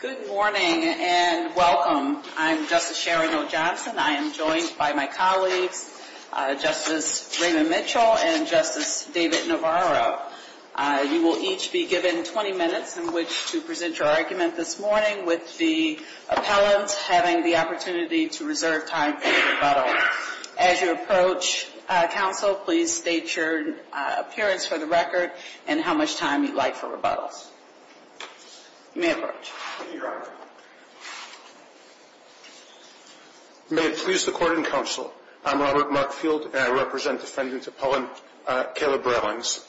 Good morning and welcome. I'm Justice Sharon O. Johnson. I am joined by my colleagues, Justice Raymond Mitchell and Justice David Navarro. You will each be given 20 minutes in which to present your argument this morning, with the appellant having the opportunity to reserve time for rebuttal. As you approach, counsel, please state your appearance for the record and how much time you'd like for rebuttals. You may approach. Thank you, Your Honor. May it please the Court and counsel, I'm Robert Markfield and I represent Defendant Appellant Caleb Rallings.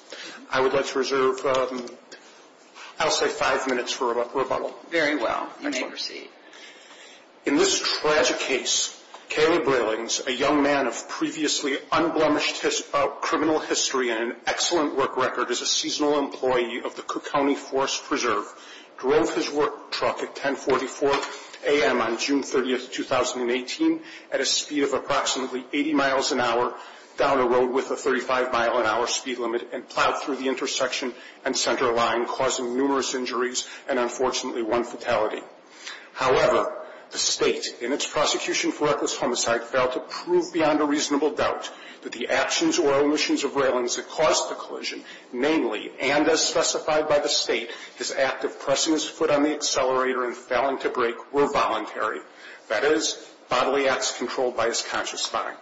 I would like to reserve, I'll say, five minutes for rebuttal. Very well. You may proceed. In this tragic case, Caleb Rallings, a young man of previously unblemished criminal history and an excellent work record as a seasonal employee of the Cook County Forest Preserve, drove his work truck at 1044 a.m. on June 30, 2018 at a speed of approximately 80 miles an hour down a road with a 35 mile an hour speed limit and plowed through the intersection and center line, causing numerous injuries and unfortunately one fatality. However, the State, in its prosecution for reckless homicide, failed to prove beyond a reasonable doubt that the actions or omissions of Rallings had caused the collision. Namely, and as specified by the State, his act of pressing his foot on the accelerator and failing to brake were voluntary. That is, bodily acts controlled by his conscious mind.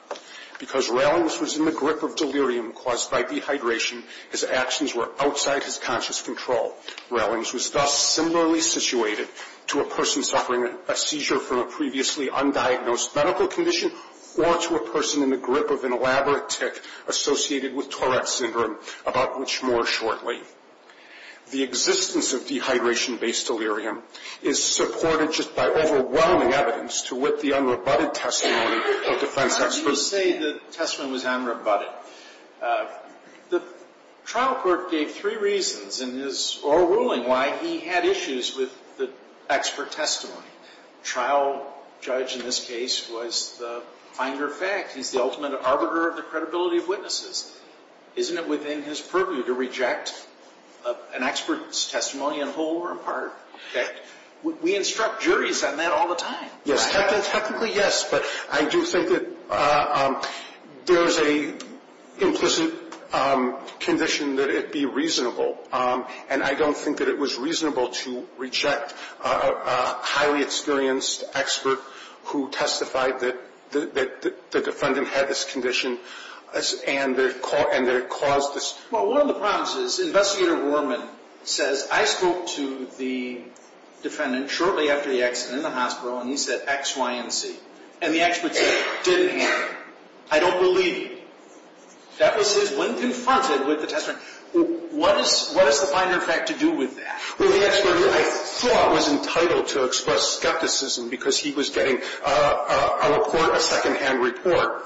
Because Rallings was in the grip of delirium caused by dehydration, his actions were outside his conscious control. Rallings was thus similarly situated to a person suffering a seizure from a previously undiagnosed medical condition or to a person in the grip of an elaborate tick associated with Tourette syndrome, about which more shortly. The existence of dehydration-based delirium is supported just by overwhelming evidence to wit the unrebutted testimony of defense experts. I was supposed to say the testimony was unrebutted. The trial court gave three reasons in his oral ruling why he had issues with the expert testimony. Trial judge in this case was the finder of fact. He's the ultimate arbiter of the credibility of witnesses. Isn't it within his purview to reject an expert's testimony in whole or in part? We instruct juries on that all the time. Yes, technically yes, but I do think that there is an implicit condition that it be reasonable. And I don't think that it was reasonable to reject a highly experienced expert who testified that the defendant had this condition and that it caused this. Well, one of the problems is Investigator Rorman says I spoke to the defendant shortly after the accident in the hospital and he said X, Y, and Z. And the expert said it didn't happen. I don't believe you. That was his when confronted with the testimony. What is the finder of fact to do with that? Well, the expert I thought was entitled to express skepticism because he was getting a report, a secondhand report.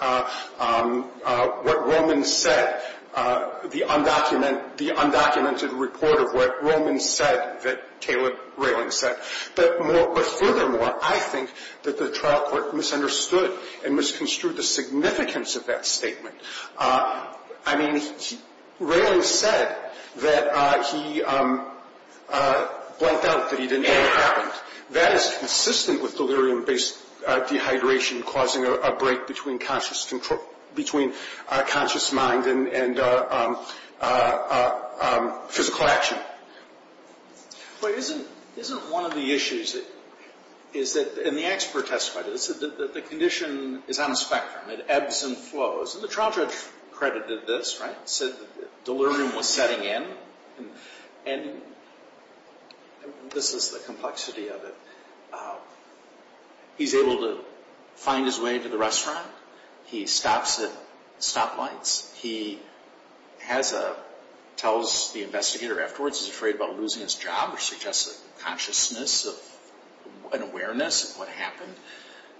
What Rorman said, the undocumented report of what Rorman said that Taylor Railing said. But furthermore, I think that the trial court misunderstood and misconstrued the significance of that statement. I mean, Railing said that he blanked out that he didn't think it happened. That is consistent with delirium-based dehydration causing a break between conscious mind and physical action. But isn't one of the issues is that, and the expert testified to this, that the condition is on a spectrum. It ebbs and flows. And the trial judge credited this, right, said delirium was setting in. And this is the complexity of it. He's able to find his way to the restaurant. He stops at stoplights. He has a, tells the investigator afterwards he's afraid about losing his job or suggests a consciousness of an awareness of what happened.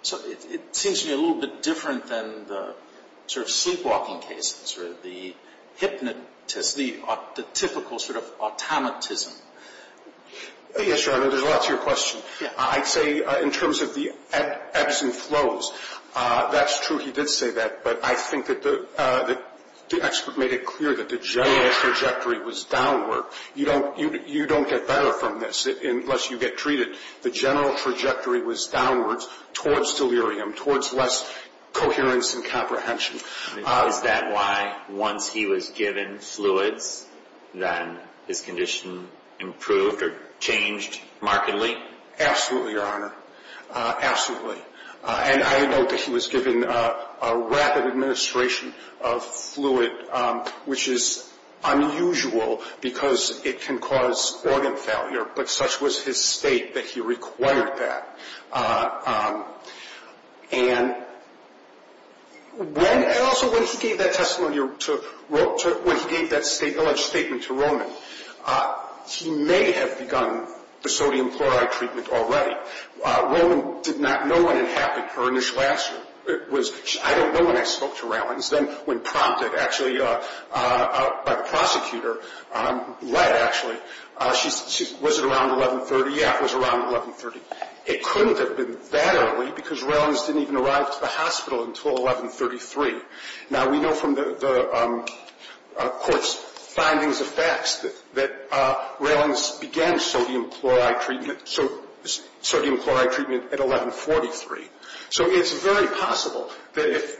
So it seems to me a little bit different than the sort of sleepwalking cases or the hypnotist, the typical sort of automatism. Yes, Your Honor, there's a lot to your question. I'd say in terms of the ebbs and flows, that's true he did say that. But I think that the expert made it clear that the general trajectory was downward. You don't get better from this unless you get treated. The general trajectory was downwards towards delirium, towards less coherence and comprehension. Is that why once he was given fluids, then his condition improved or changed markedly? Absolutely, Your Honor, absolutely. And I note that he was given a rapid administration of fluid, which is unusual because it can cause organ failure. But such was his state that he required that. And also when he gave that testimony, when he gave that alleged statement to Roman, he may have begun the sodium chloride treatment already. Roman did not know when it happened. Her initial answer was, I don't know when I spoke to Rallins. Then when prompted actually by the prosecutor, led actually, was it around 1130? Yeah, it was around 1130. It couldn't have been that early because Rallins didn't even arrive to the hospital until 1133. Now, we know from the court's findings of facts that Rallins began sodium chloride treatment at 1143. So it's very possible that if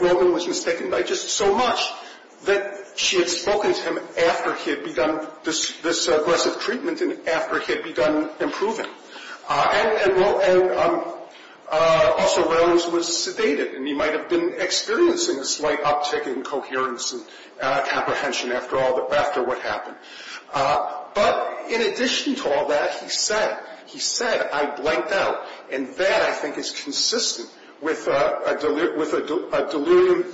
Roman was mistaken by just so much that she had spoken to him after he had begun this aggressive treatment and after he had begun improving. And also Rallins was sedated, and he might have been experiencing a slight uptick in coherence and comprehension after what happened. But in addition to all that, he said, he said, I blanked out. And that I think is consistent with a delirium,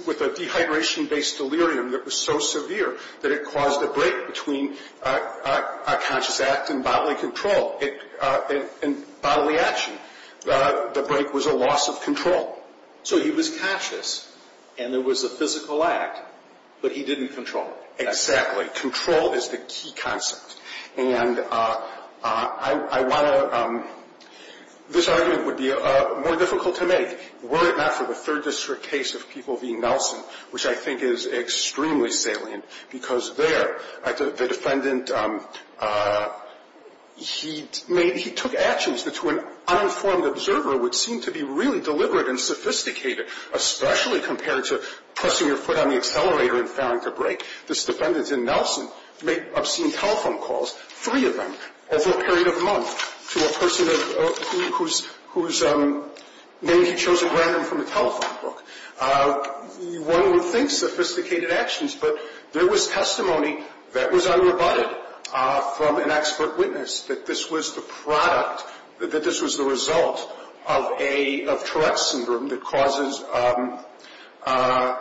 with a dehydration-based delirium that was so severe that it caused a break between a conscious act and bodily control, bodily action. The break was a loss of control. So he was conscious, and there was a physical act, but he didn't control it. Exactly. Control is the key concept. And I want to – this argument would be more difficult to make were it not for the Third District case of people being nelson, which I think is extremely salient. Because there, the defendant, he took actions that to an uninformed observer would seem to be really deliberate and sophisticated, especially compared to pressing your foot on the accelerator and failing to brake. This defendant in nelson made obscene telephone calls, three of them, over a period of a month, to a person whose name he chose at random from a telephone book. One would think sophisticated actions, but there was testimony that was unrebutted from an expert witness that this was the product, that this was the result of a – of Tourette's Syndrome that causes a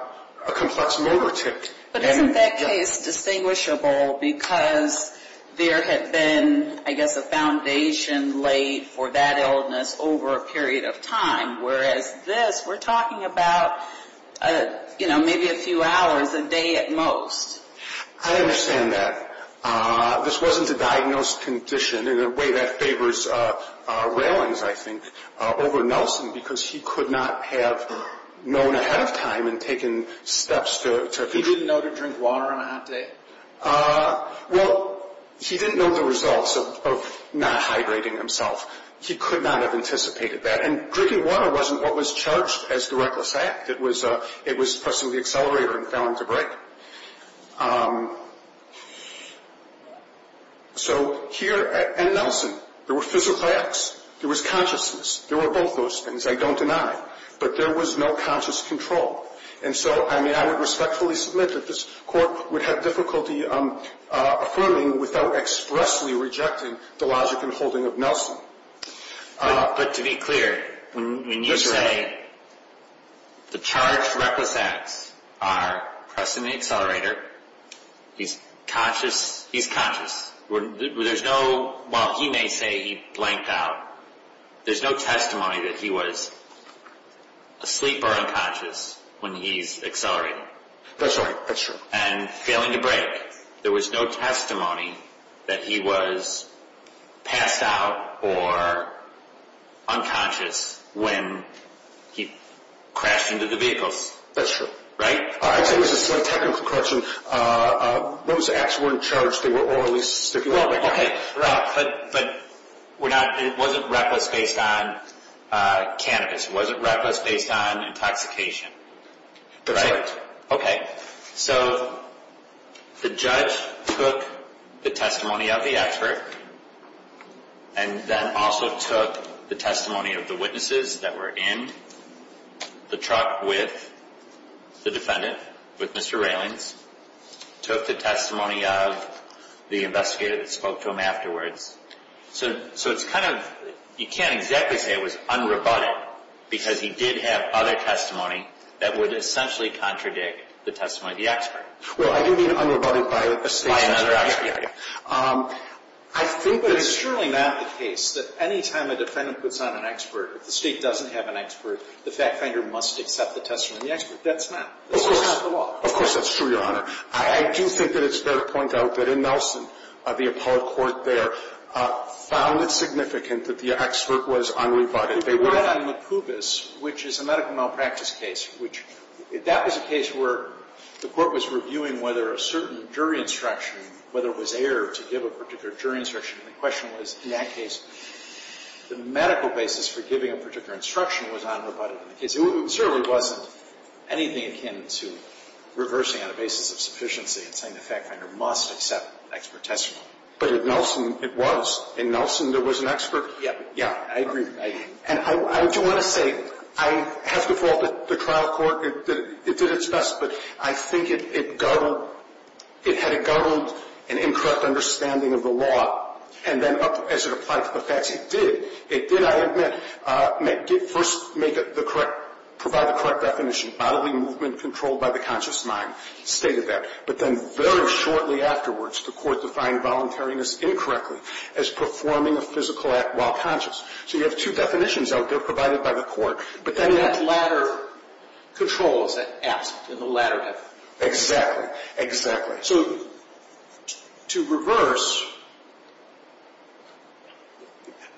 complex motor tic. But isn't that case distinguishable because there had been, I guess, a foundation laid for that illness over a period of time? Whereas this, we're talking about, you know, maybe a few hours a day at most. I understand that. This wasn't a diagnosed condition in a way that favors railings, I think, over nelson because he could not have known ahead of time and taken steps to – He didn't know to drink water on a hot day. Well, he didn't know the results of not hydrating himself. He could not have anticipated that. And drinking water wasn't what was charged as the reckless act. It was pressing the accelerator and failing to brake. So here at nelson, there were physical acts. There was consciousness. There were both those things, I don't deny. But there was no conscious control. And so, I mean, I would respectfully submit that this court would have difficulty affirming without expressly rejecting the logic and holding of nelson. But to be clear, when you say the charged reckless acts are pressing the accelerator, he's conscious? He's conscious. There's no – well, he may say he blanked out. There's no testimony that he was asleep or unconscious when he's accelerating. That's right. That's true. And failing to brake. There was no testimony that he was passed out or unconscious when he crashed into the vehicles. That's true. Right? Actually, this is a technical question. Those acts weren't charged. They were orally stipulated. But it wasn't reckless based on cannabis. It wasn't reckless based on intoxication. That's right. Okay. So the judge took the testimony of the expert and then also took the testimony of the witnesses that were in the truck with the defendant, with Mr. Raylings. Took the testimony of the investigator that spoke to him afterwards. So it's kind of – you can't exactly say it was unrebutted because he did have other testimony that would essentially contradict the testimony of the expert. Well, I do mean unrebutted by a state. By another expert. I think that it's – But it's surely not the case that any time a defendant puts on an expert, if the state doesn't have an expert, the fact finder must accept the testimony of the expert. That's not – that's not the law. Of course, that's true, Your Honor. I do think that it's fair to point out that in Nelson, the appellate court there, found it significant that the expert was unrebutted. They were not. In the Kubis, which is a medical malpractice case, which – that was a case where the court was reviewing whether a certain jury instruction, whether it was error to give a particular jury instruction. And the question was, in that case, the medical basis for giving a particular instruction was unrebutted. It certainly wasn't anything akin to reversing on the basis of sufficiency and saying the fact finder must accept expert testimony. But in Nelson, it was. In Nelson, there was an expert. Yeah. Yeah, I agree. And I do want to say, I have to fault the trial court. It did its best. But I think it guttered – it had guttered an incorrect understanding of the law. And then as it applied to the facts, it did. I mean, I admit, first make it the correct – provide the correct definition. Bodily movement controlled by the conscious mind stated that. But then very shortly afterwards, the court defined voluntariness incorrectly as performing a physical act while conscious. So you have two definitions out there provided by the court. But then that latter control is absent in the latter definition. Exactly. Exactly. So to reverse,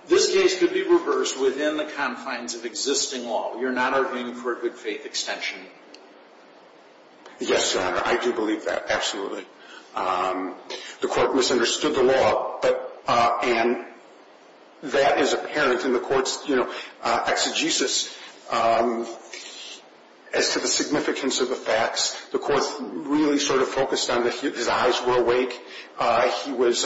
this case could be reversed within the confines of existing law. You're not arguing for a good faith extension. Yes, Your Honor. I do believe that, absolutely. The court misunderstood the law. And that is apparent in the court's exegesis as to the significance of the facts. The court really sort of focused on that his eyes were awake. He was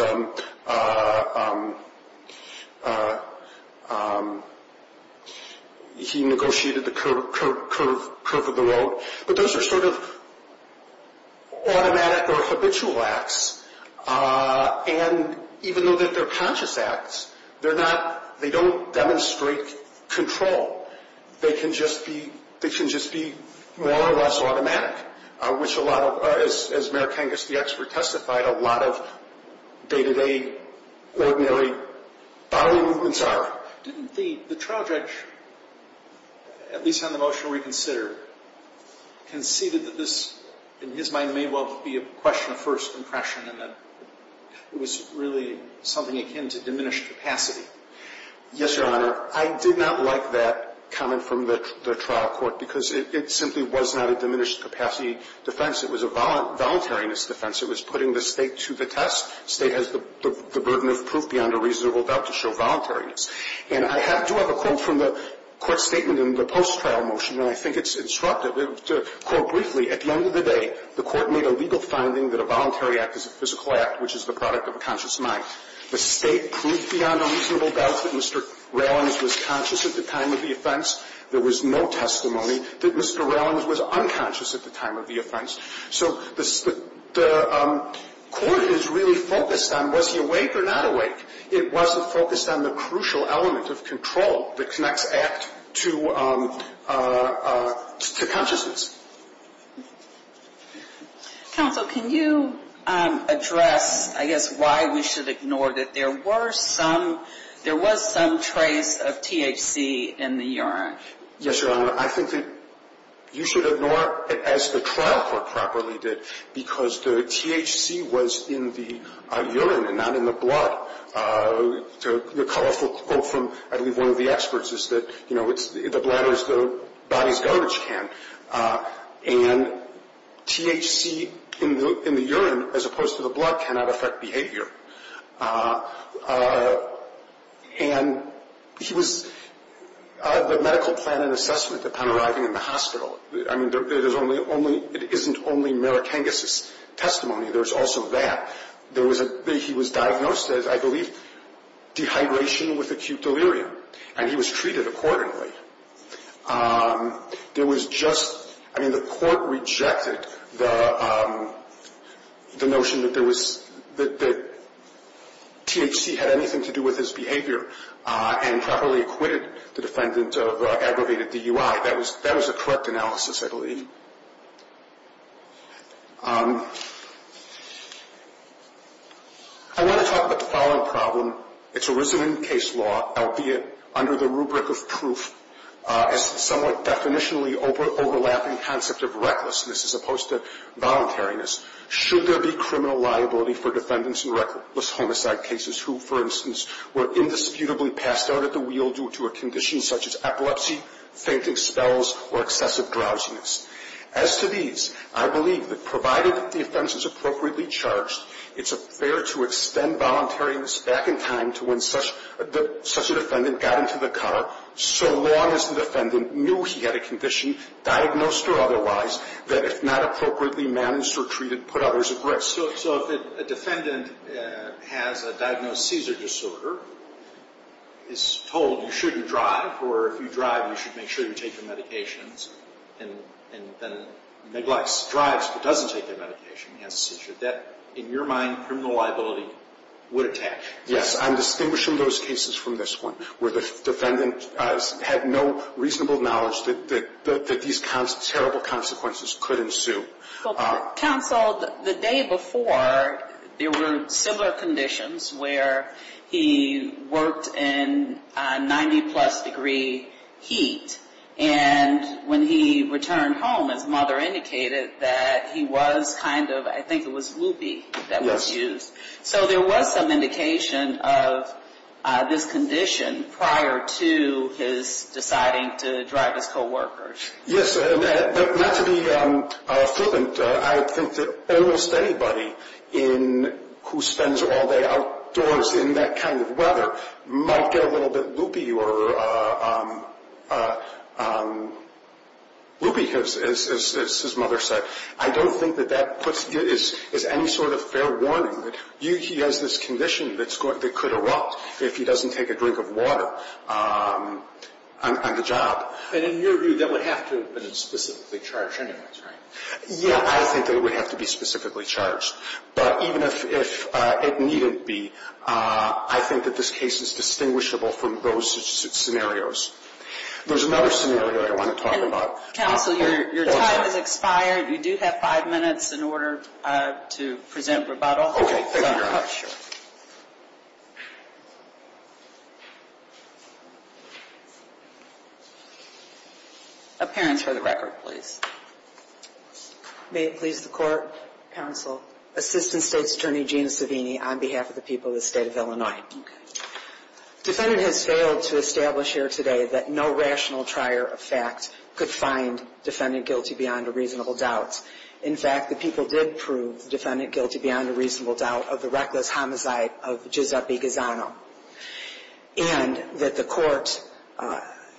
– he negotiated the curve of the road. But those are sort of automatic or habitual acts. And even though they're conscious acts, they're not – they don't demonstrate control. They can just be – they can just be more or less automatic, which a lot of – as Mayor Kangas, the expert, testified, a lot of day-to-day, ordinary bodily movements are. Didn't the trial judge, at least on the motion we considered, conceded that this, in his mind, may well be a question of first impression and that it was really something akin to diminished capacity? Yes, Your Honor. I did not like that comment from the trial court because it simply was not a diminished capacity defense. It was a voluntariness defense. It was putting the State to the test. The State has the burden of proof beyond a reasonable doubt to show voluntariness. And I do have a quote from the court statement in the post-trial motion, and I think it's instructive. To quote briefly, at the end of the day, the court made a legal finding that a voluntary act is a physical act, which is the product of a conscious mind. The State proved beyond a reasonable doubt that Mr. Rallings was conscious at the time of the offense. There was no testimony that Mr. Rallings was unconscious at the time of the offense. So the court is really focused on was he awake or not awake. It wasn't focused on the crucial element of control that connects act to consciousness. Counsel, can you address, I guess, why we should ignore that there was some trace of THC in the urine? Yes, Your Honor. I think that you should ignore it as the trial court properly did because the THC was in the urine and not in the blood. The colorful quote from, I believe, one of the experts is that, you know, the bladder is the body's garbage can. And THC in the urine as opposed to the blood cannot affect behavior. And he was the medical plan and assessment upon arriving in the hospital. I mean, it is only only it isn't only Marikangas' testimony. There's also that. There was a he was diagnosed as, I believe, dehydration with acute delirium, and he was treated accordingly. There was just, I mean, the court rejected the notion that there was that THC had anything to do with his behavior and properly acquitted the defendant of aggravated DUI. That was that was a correct analysis, I believe. I want to talk about the following problem. It's arisen in case law, albeit under the rubric of proof, as somewhat definitionally overlapping concept of recklessness as opposed to voluntariness. Should there be criminal liability for defendants in reckless homicide cases who, for instance, were indisputably passed out at the wheel due to a condition such as epilepsy, fainting spells, or excessive drowsiness? As to these, I believe that provided that the offense is appropriately charged, it's fair to extend voluntariness back in time to when such a defendant got into the car, so long as the defendant knew he had a condition, diagnosed or otherwise, that if not appropriately managed or treated, put others at risk. So if a defendant has a diagnosed seizure disorder, is told you shouldn't drive, or if you drive, you should make sure you take your medications, and then neglects, drives, but doesn't take their medication and has a seizure, that, in your mind, criminal liability would attach? Yes, I'm distinguishing those cases from this one, where the defendant had no reasonable knowledge that these terrible consequences could ensue. Counsel, the day before, there were similar conditions where he worked in 90-plus degree heat, and when he returned home, his mother indicated that he was kind of, I think it was loopy that was used. Yes. So there was some indication of this condition prior to his deciding to drive his coworkers. Yes, and not to be flippant, I think that almost anybody who spends all day outdoors in that kind of weather might get a little bit loopy or loopy, as his mother said. I don't think that that is any sort of fair warning, that he has this condition that could erupt if he doesn't take a drink of water on the job. But in your view, that would have to have been specifically charged anyways, right? Yes, I think that it would have to be specifically charged. But even if it needn't be, I think that this case is distinguishable from those scenarios. There's another scenario I want to talk about. Counsel, your time has expired. You do have five minutes in order to present rebuttal. Okay, thank you, Your Honor. Oh, sure. Appearance for the record, please. May it please the Court, Counsel, Assistant State's Attorney Gina Savini on behalf of the people of the State of Illinois. Okay. Defendant has failed to establish here today that no rational trier of fact could find defendant guilty beyond a reasonable doubt. In fact, the people did prove defendant guilty beyond a reasonable doubt of the reckless homicide of Giuseppe Gazzano. And that the Court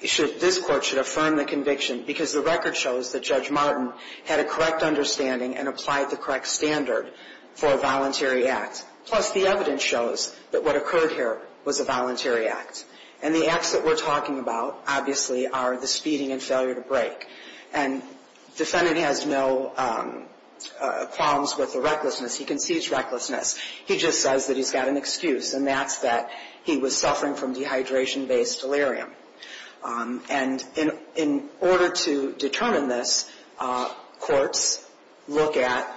should – this Court should affirm the conviction because the record shows that Judge Martin had a correct understanding and applied the correct standard for a voluntary act. Plus, the evidence shows that what occurred here was a voluntary act. And the acts that we're talking about, obviously, are the speeding and failure to break. And defendant has no problems with the recklessness. He concedes recklessness. He just says that he's got an excuse, and that's that he was suffering from dehydration-based delirium. And in order to determine this, courts look at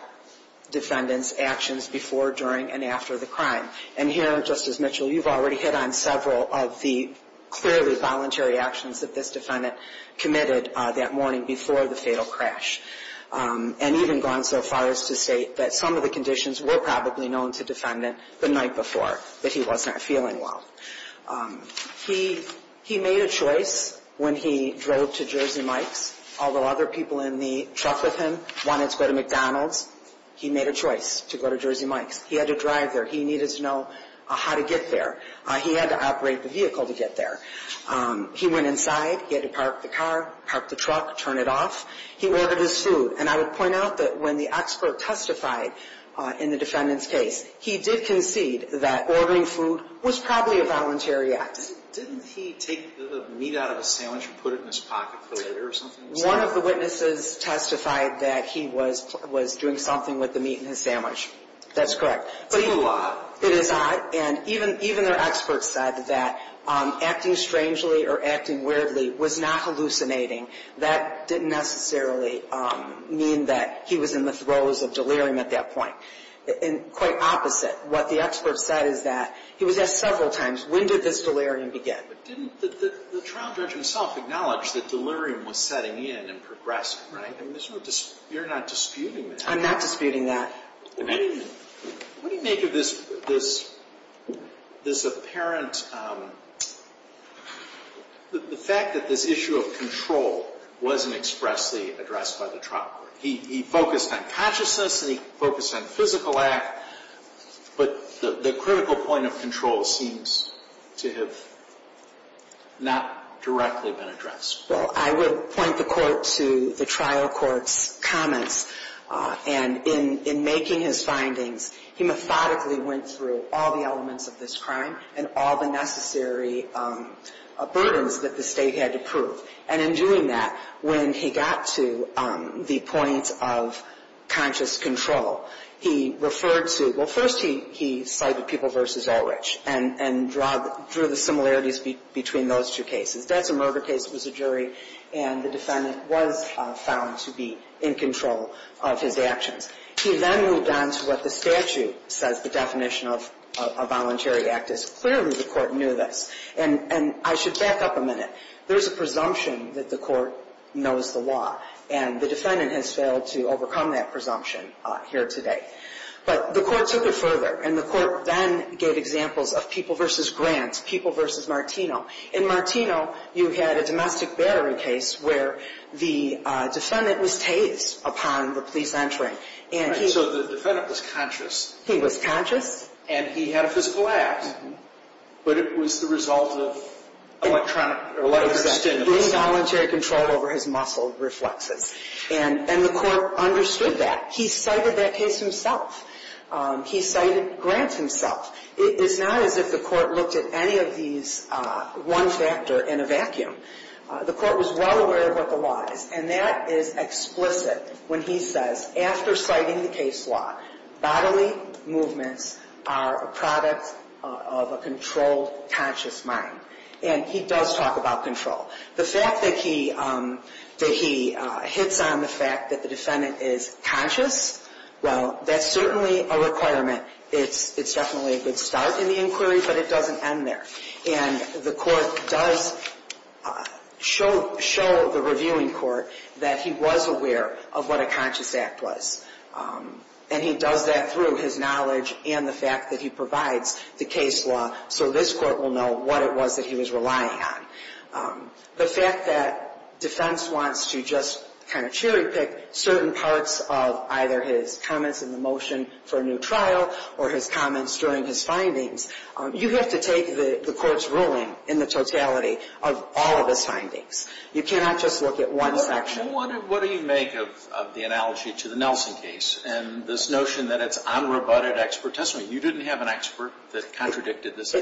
defendant's actions before, during, and after the crime. And here, Justice Mitchell, you've already hit on several of the clearly voluntary actions that this defendant committed that morning before the fatal crash. And even gone so far as to state that some of the conditions were probably known to defendant the night before, that he was not feeling well. He made a choice when he drove to Jersey Mike's. Although other people in the truck with him wanted to go to McDonald's, he made a choice to go to Jersey Mike's. He had to drive there. He needed to know how to get there. He had to operate the vehicle to get there. He went inside. He had to park the car, park the truck, turn it off. He ordered his food. And I would point out that when the expert testified in the defendant's case, he did concede that ordering food was probably a voluntary act. Didn't he take the meat out of the sandwich and put it in his pocket for later or something? One of the witnesses testified that he was doing something with the meat in his sandwich. That's correct. It's a little odd. It is odd. And even their expert said that acting strangely or acting weirdly was not hallucinating. That didn't necessarily mean that he was in the throes of delirium at that point. And quite opposite, what the expert said is that he was asked several times, when did this delirium begin? But didn't the trial judge himself acknowledge that delirium was setting in and progressing, right? You're not disputing that. I'm not disputing that. What do you make of this apparent, the fact that this issue of control wasn't expressly addressed by the trial court? He focused on consciousness and he focused on physical act, but the critical point of control seems to have not directly been addressed. Well, I would point the court to the trial court's comments. And in making his findings, he methodically went through all the elements of this crime and all the necessary burdens that the State had to prove. And in doing that, when he got to the point of conscious control, he referred to, well, first he cited People v. Ulrich and drew the similarities between those two cases. That's a murder case, it was a jury, and the defendant was found to be in control of his actions. He then moved on to what the statute says the definition of a voluntary act is. Clearly the court knew this. And I should back up a minute. There's a presumption that the court knows the law, and the defendant has failed to overcome that presumption here today. But the court took it further, and the court then gave examples of People v. Grant, People v. Martino. In Martino, you had a domestic battery case where the defendant was tased upon the police entering. And he... Right, so the defendant was conscious. He was conscious. And he had a physical act. But it was the result of electronic stimulus. Exactly, involuntary control over his muscle reflexes. And the court understood that. He cited that case himself. He cited Grant himself. It's not as if the court looked at any of these one factor in a vacuum. The court was well aware of what the law is. And that is explicit when he says, after citing the case law, bodily movements are a product of a controlled, conscious mind. And he does talk about control. The fact that he hits on the fact that the defendant is conscious, well, that's certainly a requirement. It's definitely a good start in the inquiry, but it doesn't end there. And the court does show the reviewing court that he was aware of what a conscious act was. And he does that through his knowledge and the fact that he provides the case law so this court will know what it was that he was relying on. The fact that defense wants to just kind of cherry pick certain parts of either his comments in the motion for a new trial or his comments during his findings, you have to take the court's ruling in the totality of all of his findings. You cannot just look at one section. What do you make of the analogy to the Nelson case and this notion that it's unrebutted expert testimony? You didn't have an expert that contradicted this?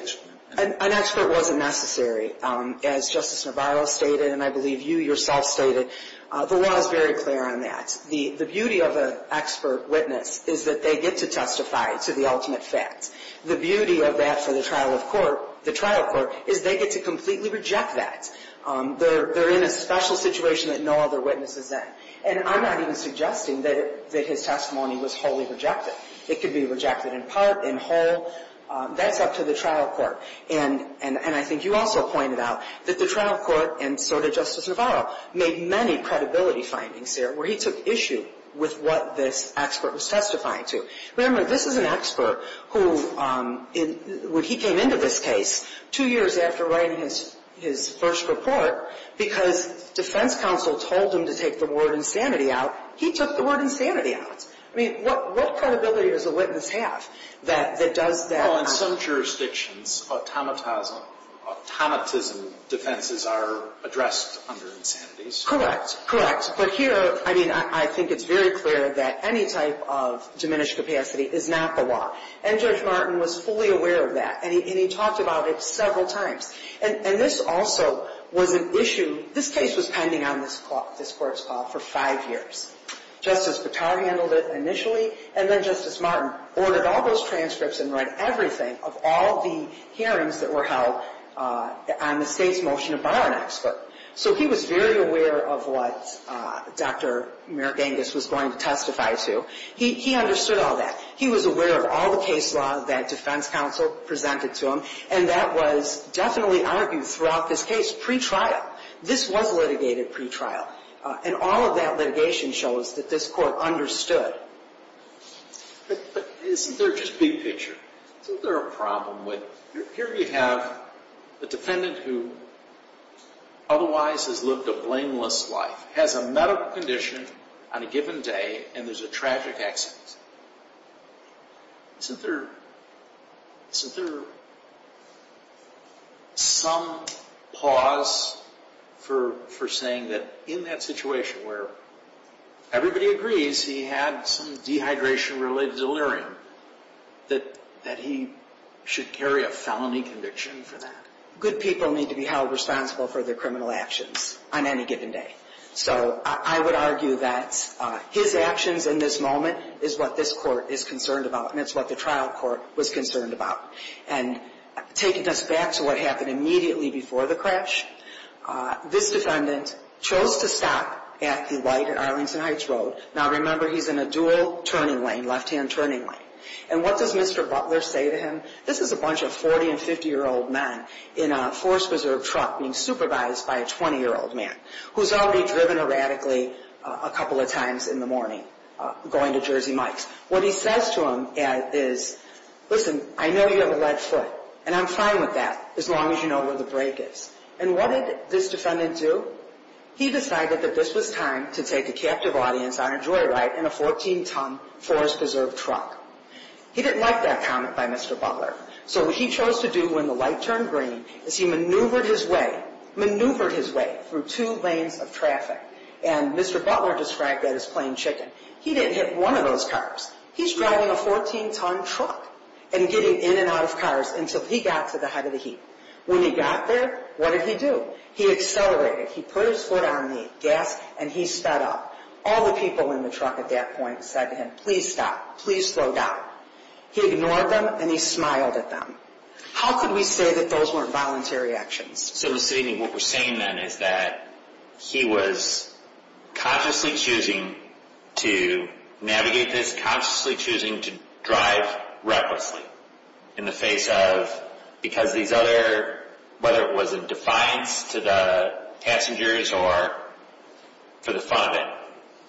An expert wasn't necessary. As Justice Navarro stated, and I believe you yourself stated, the law is very clear on that. The beauty of an expert witness is that they get to testify to the ultimate fact. The beauty of that for the trial of court, the trial court, is they get to completely reject that. They're in a special situation that no other witness is in. And I'm not even suggesting that his testimony was wholly rejected. It could be rejected in part, in whole. That's up to the trial court. And I think you also pointed out that the trial court, and so did Justice Navarro, made many credibility findings there where he took issue with what this expert was testifying to. Remember, this is an expert who, when he came into this case, two years after writing his first report, because defense counsel told him to take the word insanity out, he took the word insanity out. I mean, what credibility does a witness have that does that? Well, in some jurisdictions, automatism defenses are addressed under insanities. Correct, correct. But here, I mean, I think it's very clear that any type of diminished capacity is not the law. And Judge Martin was fully aware of that, and he talked about it several times. And this also was an issue. This case was pending on this Court's call for five years. Justice Patar handled it initially, and then Justice Martin ordered all those transcripts and read everything of all the hearings that were held on the state's motion to bar an expert. So he was very aware of what Dr. Merrick Angus was going to testify to. He understood all that. He was aware of all the case law that defense counsel presented to him, and that was definitely argued throughout this case pretrial. This was litigated pretrial. And all of that litigation shows that this Court understood. But isn't there just big picture? Isn't there a problem with it? Here you have a defendant who otherwise has lived a blameless life, has a medical condition on a given day, and there's a tragic accident. Isn't there some pause for saying that in that situation where everybody agrees he had some dehydration-related delirium, that he should carry a felony conviction for that? Good people need to be held responsible for their criminal actions on any given day. So I would argue that his actions in this moment is what this Court is concerned about, and it's what the trial court was concerned about. And taking us back to what happened immediately before the crash, this defendant chose to stop at the light at Arlington Heights Road. Now, remember, he's in a dual turning lane, left-hand turning lane. And what does Mr. Butler say to him? This is a bunch of 40- and 50-year-old men in a force-preserved truck being supervised by a 20-year-old man who's already driven erratically a couple of times in the morning going to Jersey Mike's. What he says to him is, listen, I know you have a lead foot, and I'm fine with that as long as you know where the brake is. And what did this defendant do? He decided that this was time to take a captive audience on a joyride in a 14-ton force-preserved truck. He didn't like that comment by Mr. Butler, so what he chose to do when the light turned green is he maneuvered his way, maneuvered his way through two lanes of traffic. And Mr. Butler described that as plain chicken. He didn't hit one of those cars. He's driving a 14-ton truck and getting in and out of cars until he got to the head of the heap. When he got there, what did he do? He accelerated. He put his foot on the gas, and he sped up. All the people in the truck at that point said to him, please stop, please slow down. He ignored them, and he smiled at them. How could we say that those weren't voluntary actions? So what we're saying then is that he was consciously choosing to navigate this, consciously choosing to drive recklessly in the face of, because these other, whether it was in defiance to the passengers or for the fun of it,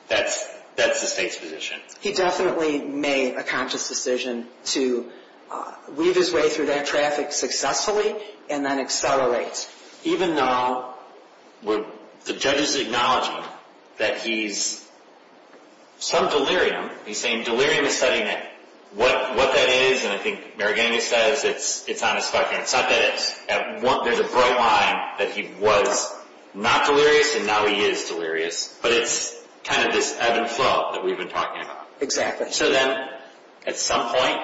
that's the state's position. He definitely made a conscious decision to weave his way through that traffic successfully and then accelerate, even though the judge is acknowledging that he's some delirium. He's saying delirium is studying it. What that is, and I think Maragany says it's on his fucking head. It's not that there's a bright line that he was not delirious and now he is delirious, but it's kind of this ebb and flow that we've been talking about. So then at some point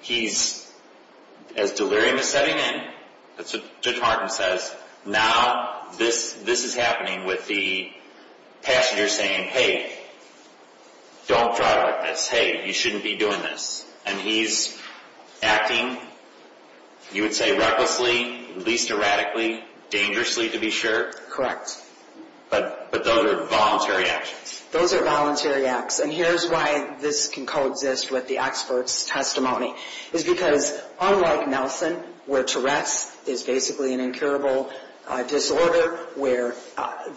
he's, as delirium is setting in, that's what Judge Harden says, now this is happening with the passenger saying, hey, don't drive like this. Hey, you shouldn't be doing this. And he's acting, you would say, recklessly, least erratically, dangerously to be sure. Correct. But those are voluntary actions. Those are voluntary acts, and here's why this can coexist with the expert's testimony. It's because unlike Nelson, where Tourette's is basically an incurable disorder, where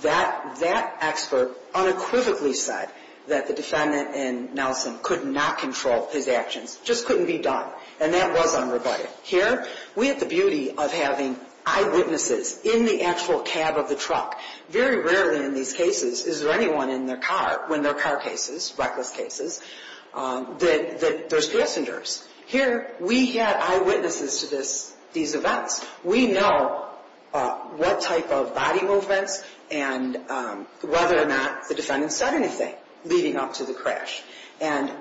that expert unequivocally said that the defendant in Nelson could not control his actions, just couldn't be done, and that was unrebutted. Here we have the beauty of having eyewitnesses in the actual cab of the truck. Very rarely in these cases is there anyone in their car, when there are car cases, reckless cases, that there's passengers. Here we had eyewitnesses to these events. We know what type of body movements and whether or not the defendant said anything leading up to the crash. And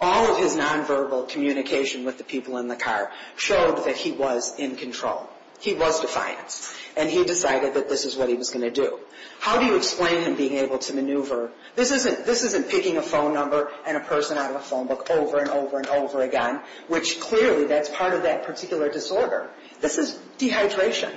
all of his nonverbal communication with the people in the car showed that he was in control. He was defiant, and he decided that this is what he was going to do. How do you explain him being able to maneuver? This isn't picking a phone number and a person out of a phone book over and over and over again, which clearly, that's part of that particular disorder. This is dehydration.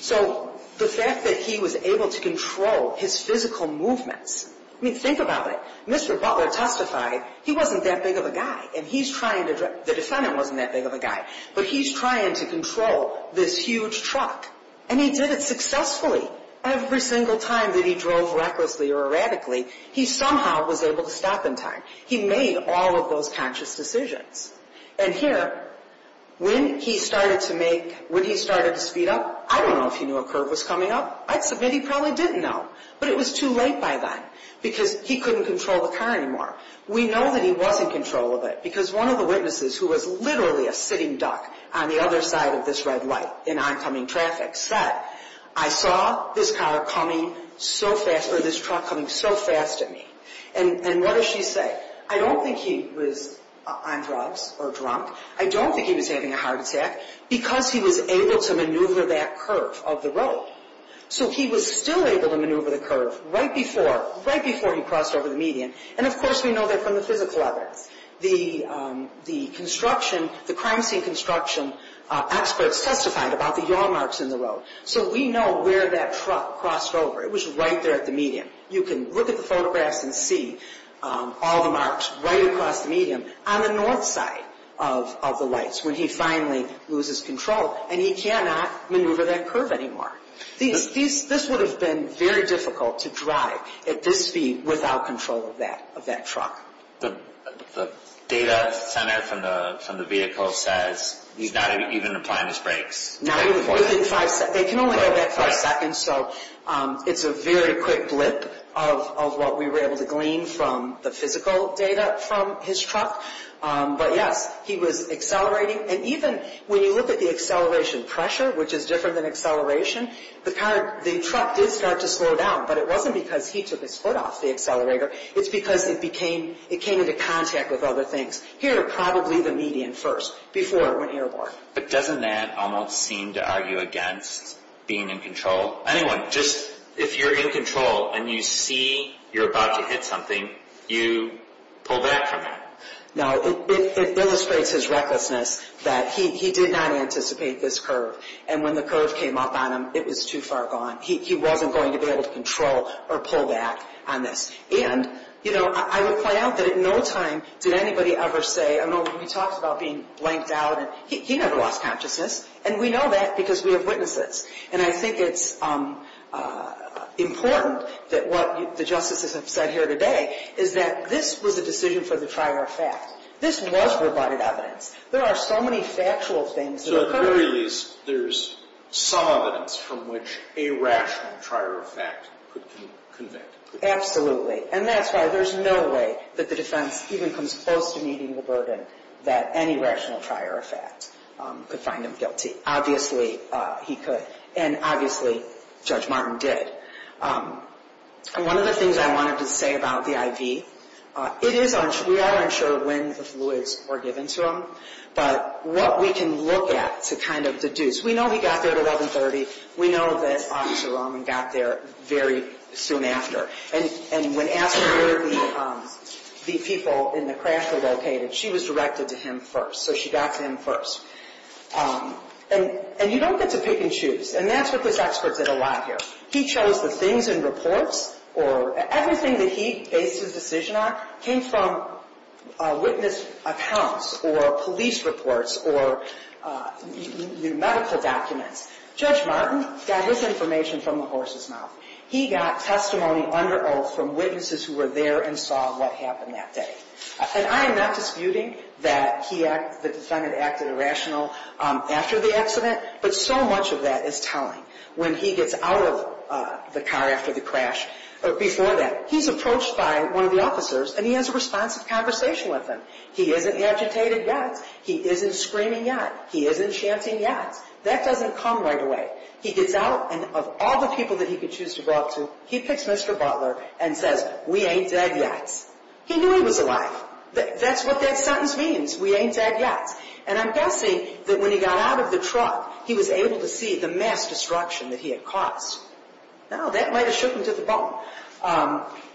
So the fact that he was able to control his physical movements, I mean, think about it. Mr. Butler testified, he wasn't that big of a guy, and he's trying to drive. The defendant wasn't that big of a guy, but he's trying to control this huge truck. And he did it successfully. Every single time that he drove recklessly or erratically, he somehow was able to stop in time. He made all of those conscious decisions. And here, when he started to make, when he started to speed up, I don't know if he knew a curb was coming up. I'd submit he probably didn't know. But it was too late by then because he couldn't control the car anymore. We know that he was in control of it because one of the witnesses, who was literally a sitting duck on the other side of this red light in oncoming traffic, said, I saw this car coming so fast, or this truck coming so fast at me. And what does she say? I don't think he was on drugs or drunk. I don't think he was having a heart attack because he was able to maneuver that curve of the road. So he was still able to maneuver the curve right before, right before he crossed over the median. And, of course, we know that from the physical evidence. The construction, the crime scene construction experts testified about the yaw marks in the road. So we know where that truck crossed over. It was right there at the median. You can look at the photographs and see all the marks right across the median on the north side of the lights when he finally loses control. And he cannot maneuver that curve anymore. This would have been very difficult to drive at this speed without control of that truck. The data center from the vehicle says he's not even applying his brakes. They can only go back five seconds. So it's a very quick blip of what we were able to glean from the physical data from his truck. But, yes, he was accelerating. And even when you look at the acceleration pressure, which is different than acceleration, the truck did start to slow down. But it wasn't because he took his foot off the accelerator. It's because it became, it came into contact with other things. Here, probably the median first before it went airborne. But doesn't that almost seem to argue against being in control? Well, anyway, just if you're in control and you see you're about to hit something, you pull back from it. No, it illustrates his recklessness that he did not anticipate this curve. And when the curve came up on him, it was too far gone. He wasn't going to be able to control or pull back on this. And, you know, I would point out that at no time did anybody ever say, I mean, we talked about being blanked out. He never lost consciousness. And we know that because we have witnesses. And I think it's important that what the justices have said here today is that this was a decision for the trier of fact. This was rebutted evidence. There are so many factual things that occur. So at the very least, there's some evidence from which a rational trier of fact could convict. Absolutely. And that's why there's no way that the defense even comes close to meeting the burden that any rational trier of fact could find him guilty. Obviously, he could. And obviously, Judge Martin did. And one of the things I wanted to say about the IV, it is unsure. We are unsure when the fluids were given to him. But what we can look at to kind of deduce, we know he got there at 1130. We know that Officer Roman got there very soon after. And when asked where the people in the crash were located, she was directed to him first. So she got to him first. And you don't get to pick and choose. And that's what this expert did a lot here. He chose the things in reports or everything that he based his decision on came from witness accounts or police reports or medical documents. Judge Martin got his information from the horse's mouth. He got testimony under oath from witnesses who were there and saw what happened that day. And I am not disputing that the defendant acted irrational after the accident. But so much of that is telling. When he gets out of the car after the crash, before that, he's approached by one of the officers, and he has a responsive conversation with them. He isn't agitated yet. He isn't screaming yet. He isn't chanting yet. That doesn't come right away. He gets out, and of all the people that he could choose to go up to, he picks Mr. Butler and says, we ain't dead yet. He knew he was alive. That's what that sentence means, we ain't dead yet. And I'm guessing that when he got out of the truck, he was able to see the mass destruction that he had caused. Now, that might have shook him to the bone.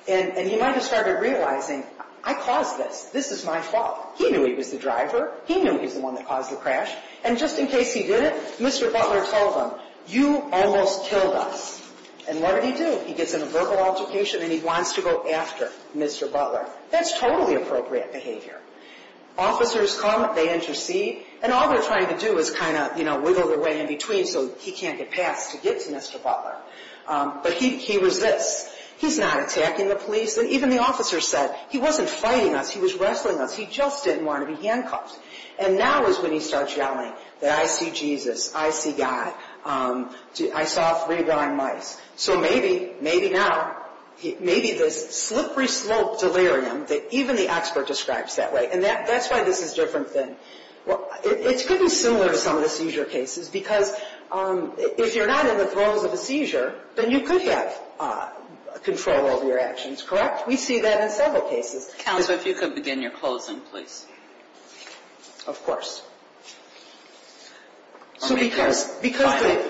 And he might have started realizing, I caused this. This is my fault. He knew he was the driver. He knew he was the one that caused the crash. And just in case he didn't, Mr. Butler told him, you almost killed us. And what did he do? He gets in a verbal altercation, and he wants to go after Mr. Butler. That's totally appropriate behavior. Officers come. They intercede. And all they're trying to do is kind of wiggle their way in between so he can't get past to get to Mr. Butler. But he resists. He's not attacking the police. Even the officer said, he wasn't fighting us. He was wrestling us. He just didn't want to be handcuffed. And now is when he starts yelling that I see Jesus. I see God. I saw three blind mice. So maybe, maybe now, maybe this slippery slope delirium that even the expert describes that way, and that's why this is a different thing. It's going to be similar to some of the seizure cases because if you're not in the throes of a seizure, then you could have control over your actions, correct? We see that in several cases. Counsel, if you could begin your closing, please. Of course. So because the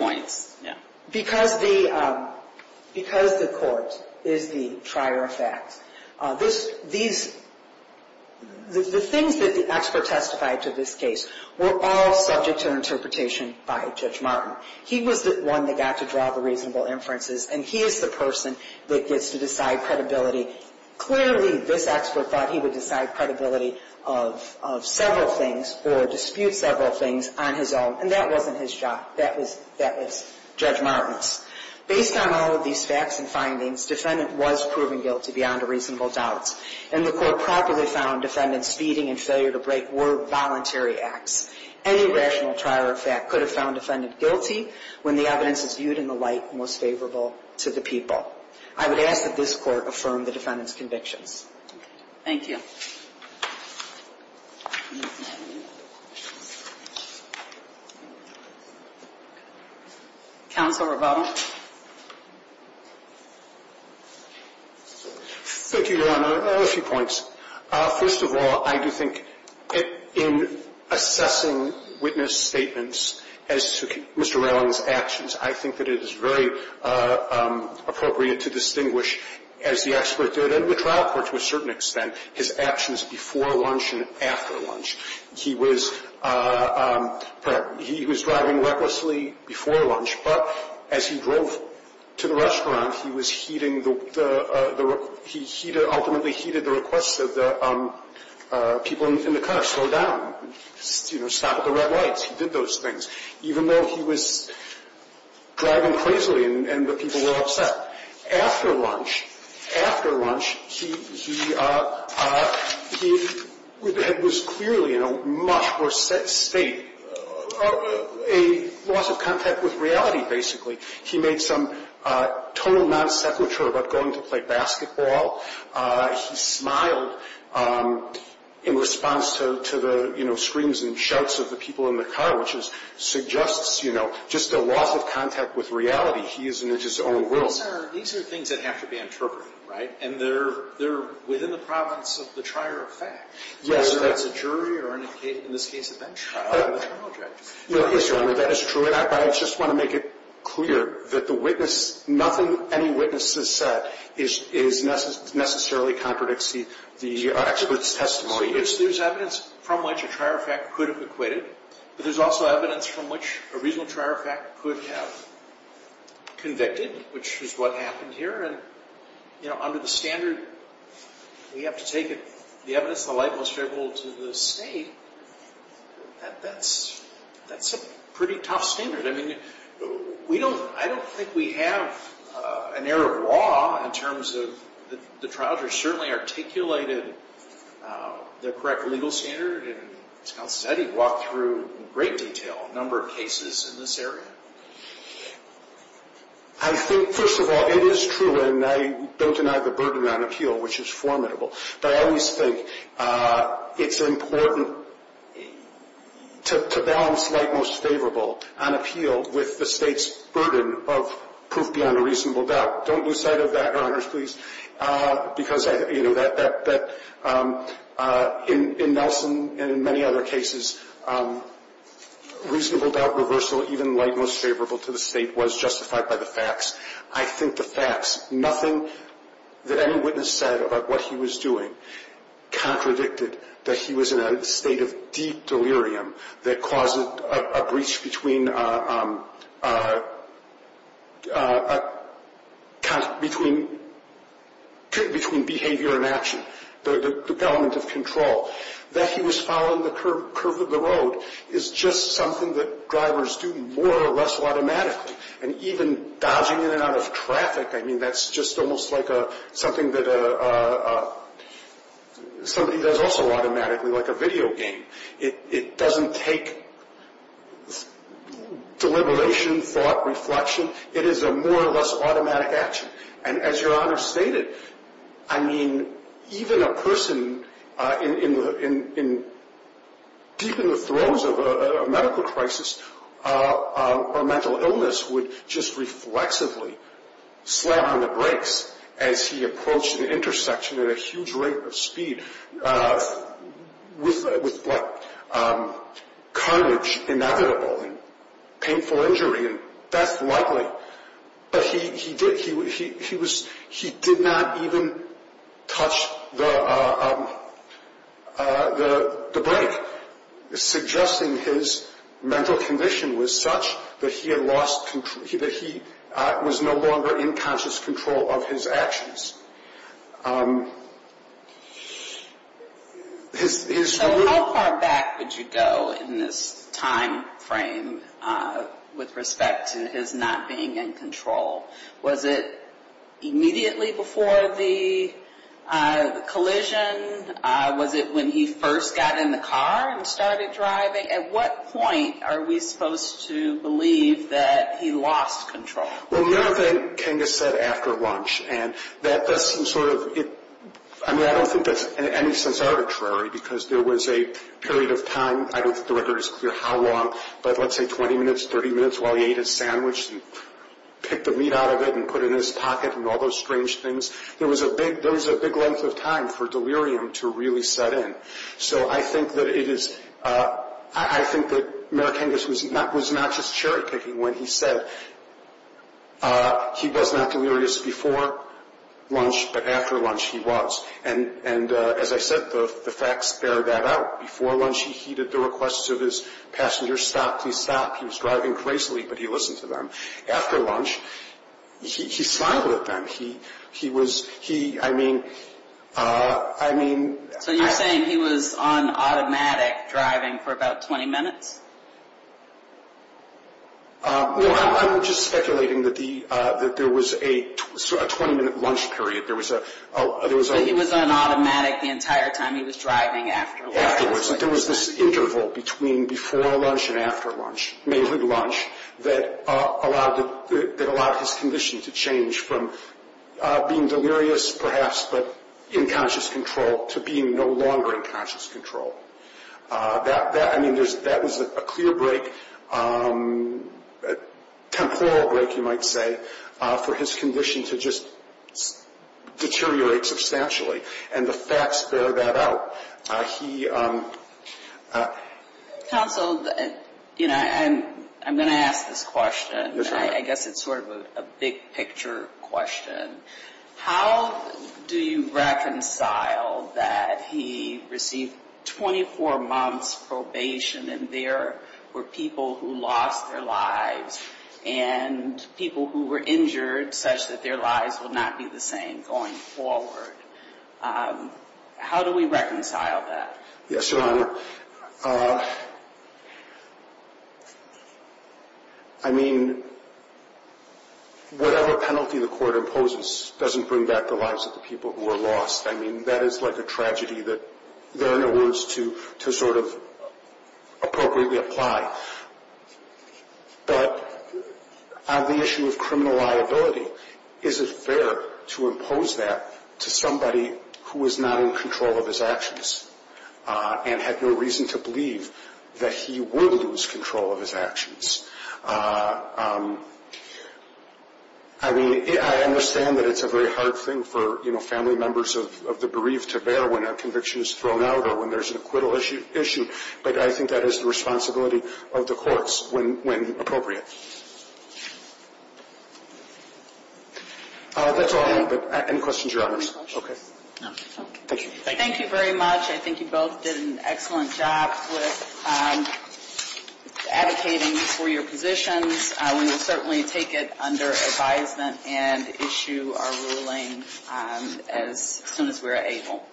court is the trier of facts, the things that the expert testified to this case were all subject to interpretation by Judge Martin. He was the one that got to draw the reasonable inferences, and he is the person that gets to decide credibility. Clearly, this expert thought he would decide credibility of several things or dispute several things on his own, and that wasn't his job. That was Judge Martin's. Based on all of these facts and findings, defendant was proven guilty beyond a reasonable doubt, and the court properly found defendant's speeding and failure to break were voluntary acts. Any rational trier of fact could have found defendant guilty when the evidence is viewed in the light most favorable to the people. I would ask that this Court affirm the defendant's convictions. Thank you. Counsel Robado? Thank you, Your Honor. A few points. First of all, I do think in assessing witness statements as to Mr. Raylon's actions, I think that it is very appropriate to distinguish, as the expert did and the trial court to a certain extent, his actions before lunch and after lunch. He was driving recklessly before lunch, but as he drove to the restaurant, he was heeding the – he ultimately heeded the requests of the people in the car, slow down, stop at the red lights. He did those things. Even though he was driving crazily and the people were upset. After lunch, after lunch, he was clearly in a much worse state, a loss of contact with reality, basically. He made some total non sequitur about going to play basketball. He smiled in response to the, you know, screams and shouts of the people in the car, which suggests, you know, just a loss of contact with reality. He is in his own world. These are things that have to be interpreted, right? And they're within the province of the trier of fact. Yes, Your Honor. So that's a jury or in this case a bench trial and a trial judge. Yes, Your Honor, that is true. Your Honor, I just want to make it clear that the witness – nothing any witness has said is necessarily contradicts the expert's testimony. There's evidence from which a trier of fact could have acquitted, but there's also evidence from which a reasonable trier of fact could have convicted, which is what happened here. And, you know, under the standard we have to take it, the evidence is the light most favorable to the state. That's a pretty tough standard. I mean, I don't think we have an error of law in terms of the trial judge certainly articulated the correct legal standard, and as Counsel said, he walked through in great detail a number of cases in this area. I think, first of all, it is true, and I don't deny the burden on appeal, which is formidable. But I always think it's important to balance light most favorable on appeal with the state's burden of proof beyond a reasonable doubt. Don't lose sight of that, Your Honors, please. Because, you know, in Nelson and in many other cases, reasonable doubt reversal, even light most favorable to the state, was justified by the facts. I think the facts, nothing that any witness said about what he was doing contradicted that he was in a state of deep delirium that caused a breach between behavior and action, the element of control. That he was following the curve of the road is just something that drivers do more or less automatically, and even dodging in and out of traffic, I mean, that's just almost like something that somebody does also automatically, like a video game. It doesn't take deliberation, thought, reflection. It is a more or less automatic action. And as Your Honor stated, I mean, even a person deep in the throes of a medical crisis or mental illness would just reflexively slam on the brakes as he approached an intersection at a huge rate of speed with what? Courage inevitable and painful injury, and that's likely. But he did not even touch the brake, suggesting his mental condition was such that he had lost control, that he was no longer in conscious control of his actions. So how far back would you go in this time frame with respect to his not being in control? Was it immediately before the collision? Was it when he first got in the car and started driving? At what point are we supposed to believe that he lost control? Well, Mayor Kangas said after lunch, and that does some sort of, I mean, I don't think that's in any sense arbitrary because there was a period of time. I don't think the record is clear how long, but let's say 20 minutes, 30 minutes while he ate his sandwich and picked the meat out of it and put it in his pocket and all those strange things. There was a big length of time for delirium to really set in. So I think that Mayor Kangas was not just cherry-picking when he said he was not delirious before lunch, but after lunch he was. And as I said, the facts bear that out. Before lunch he heeded the requests of his passengers, stop, please stop. He was driving crazily, but he listened to them. After lunch, he smiled at them. So you're saying he was on automatic driving for about 20 minutes? Well, I'm just speculating that there was a 20-minute lunch period. So he was on automatic the entire time he was driving after lunch? Afterwards. There was this interval between before lunch and after lunch, mainly lunch, that allowed his condition to change from being delirious perhaps, but in conscious control, to being no longer in conscious control. That was a clear break, a temporal break you might say, for his condition to just deteriorate substantially. And the facts bear that out. Council, I'm going to ask this question. I guess it's sort of a big-picture question. How do you reconcile that he received 24 months probation and there were people who lost their lives and people who were injured such that their lives will not be the same going forward? How do we reconcile that? Yes, Your Honor. I mean, whatever penalty the court imposes doesn't bring back the lives of the people who are lost. I mean, that is like a tragedy that there are no words to sort of appropriately apply. But on the issue of criminal liability, is it fair to impose that to somebody who is not in control of his actions and had no reason to believe that he would lose control of his actions? I mean, I understand that it's a very hard thing for family members of the bereaved to bear when a conviction is thrown out or when there's an acquittal issue, but I think that is the responsibility of the courts when appropriate. That's all I have. Any questions, Your Honors? Any questions? No. Thank you. Thank you very much. I think you both did an excellent job with advocating for your positions. We will certainly take it under advisement and issue our ruling as soon as we are able.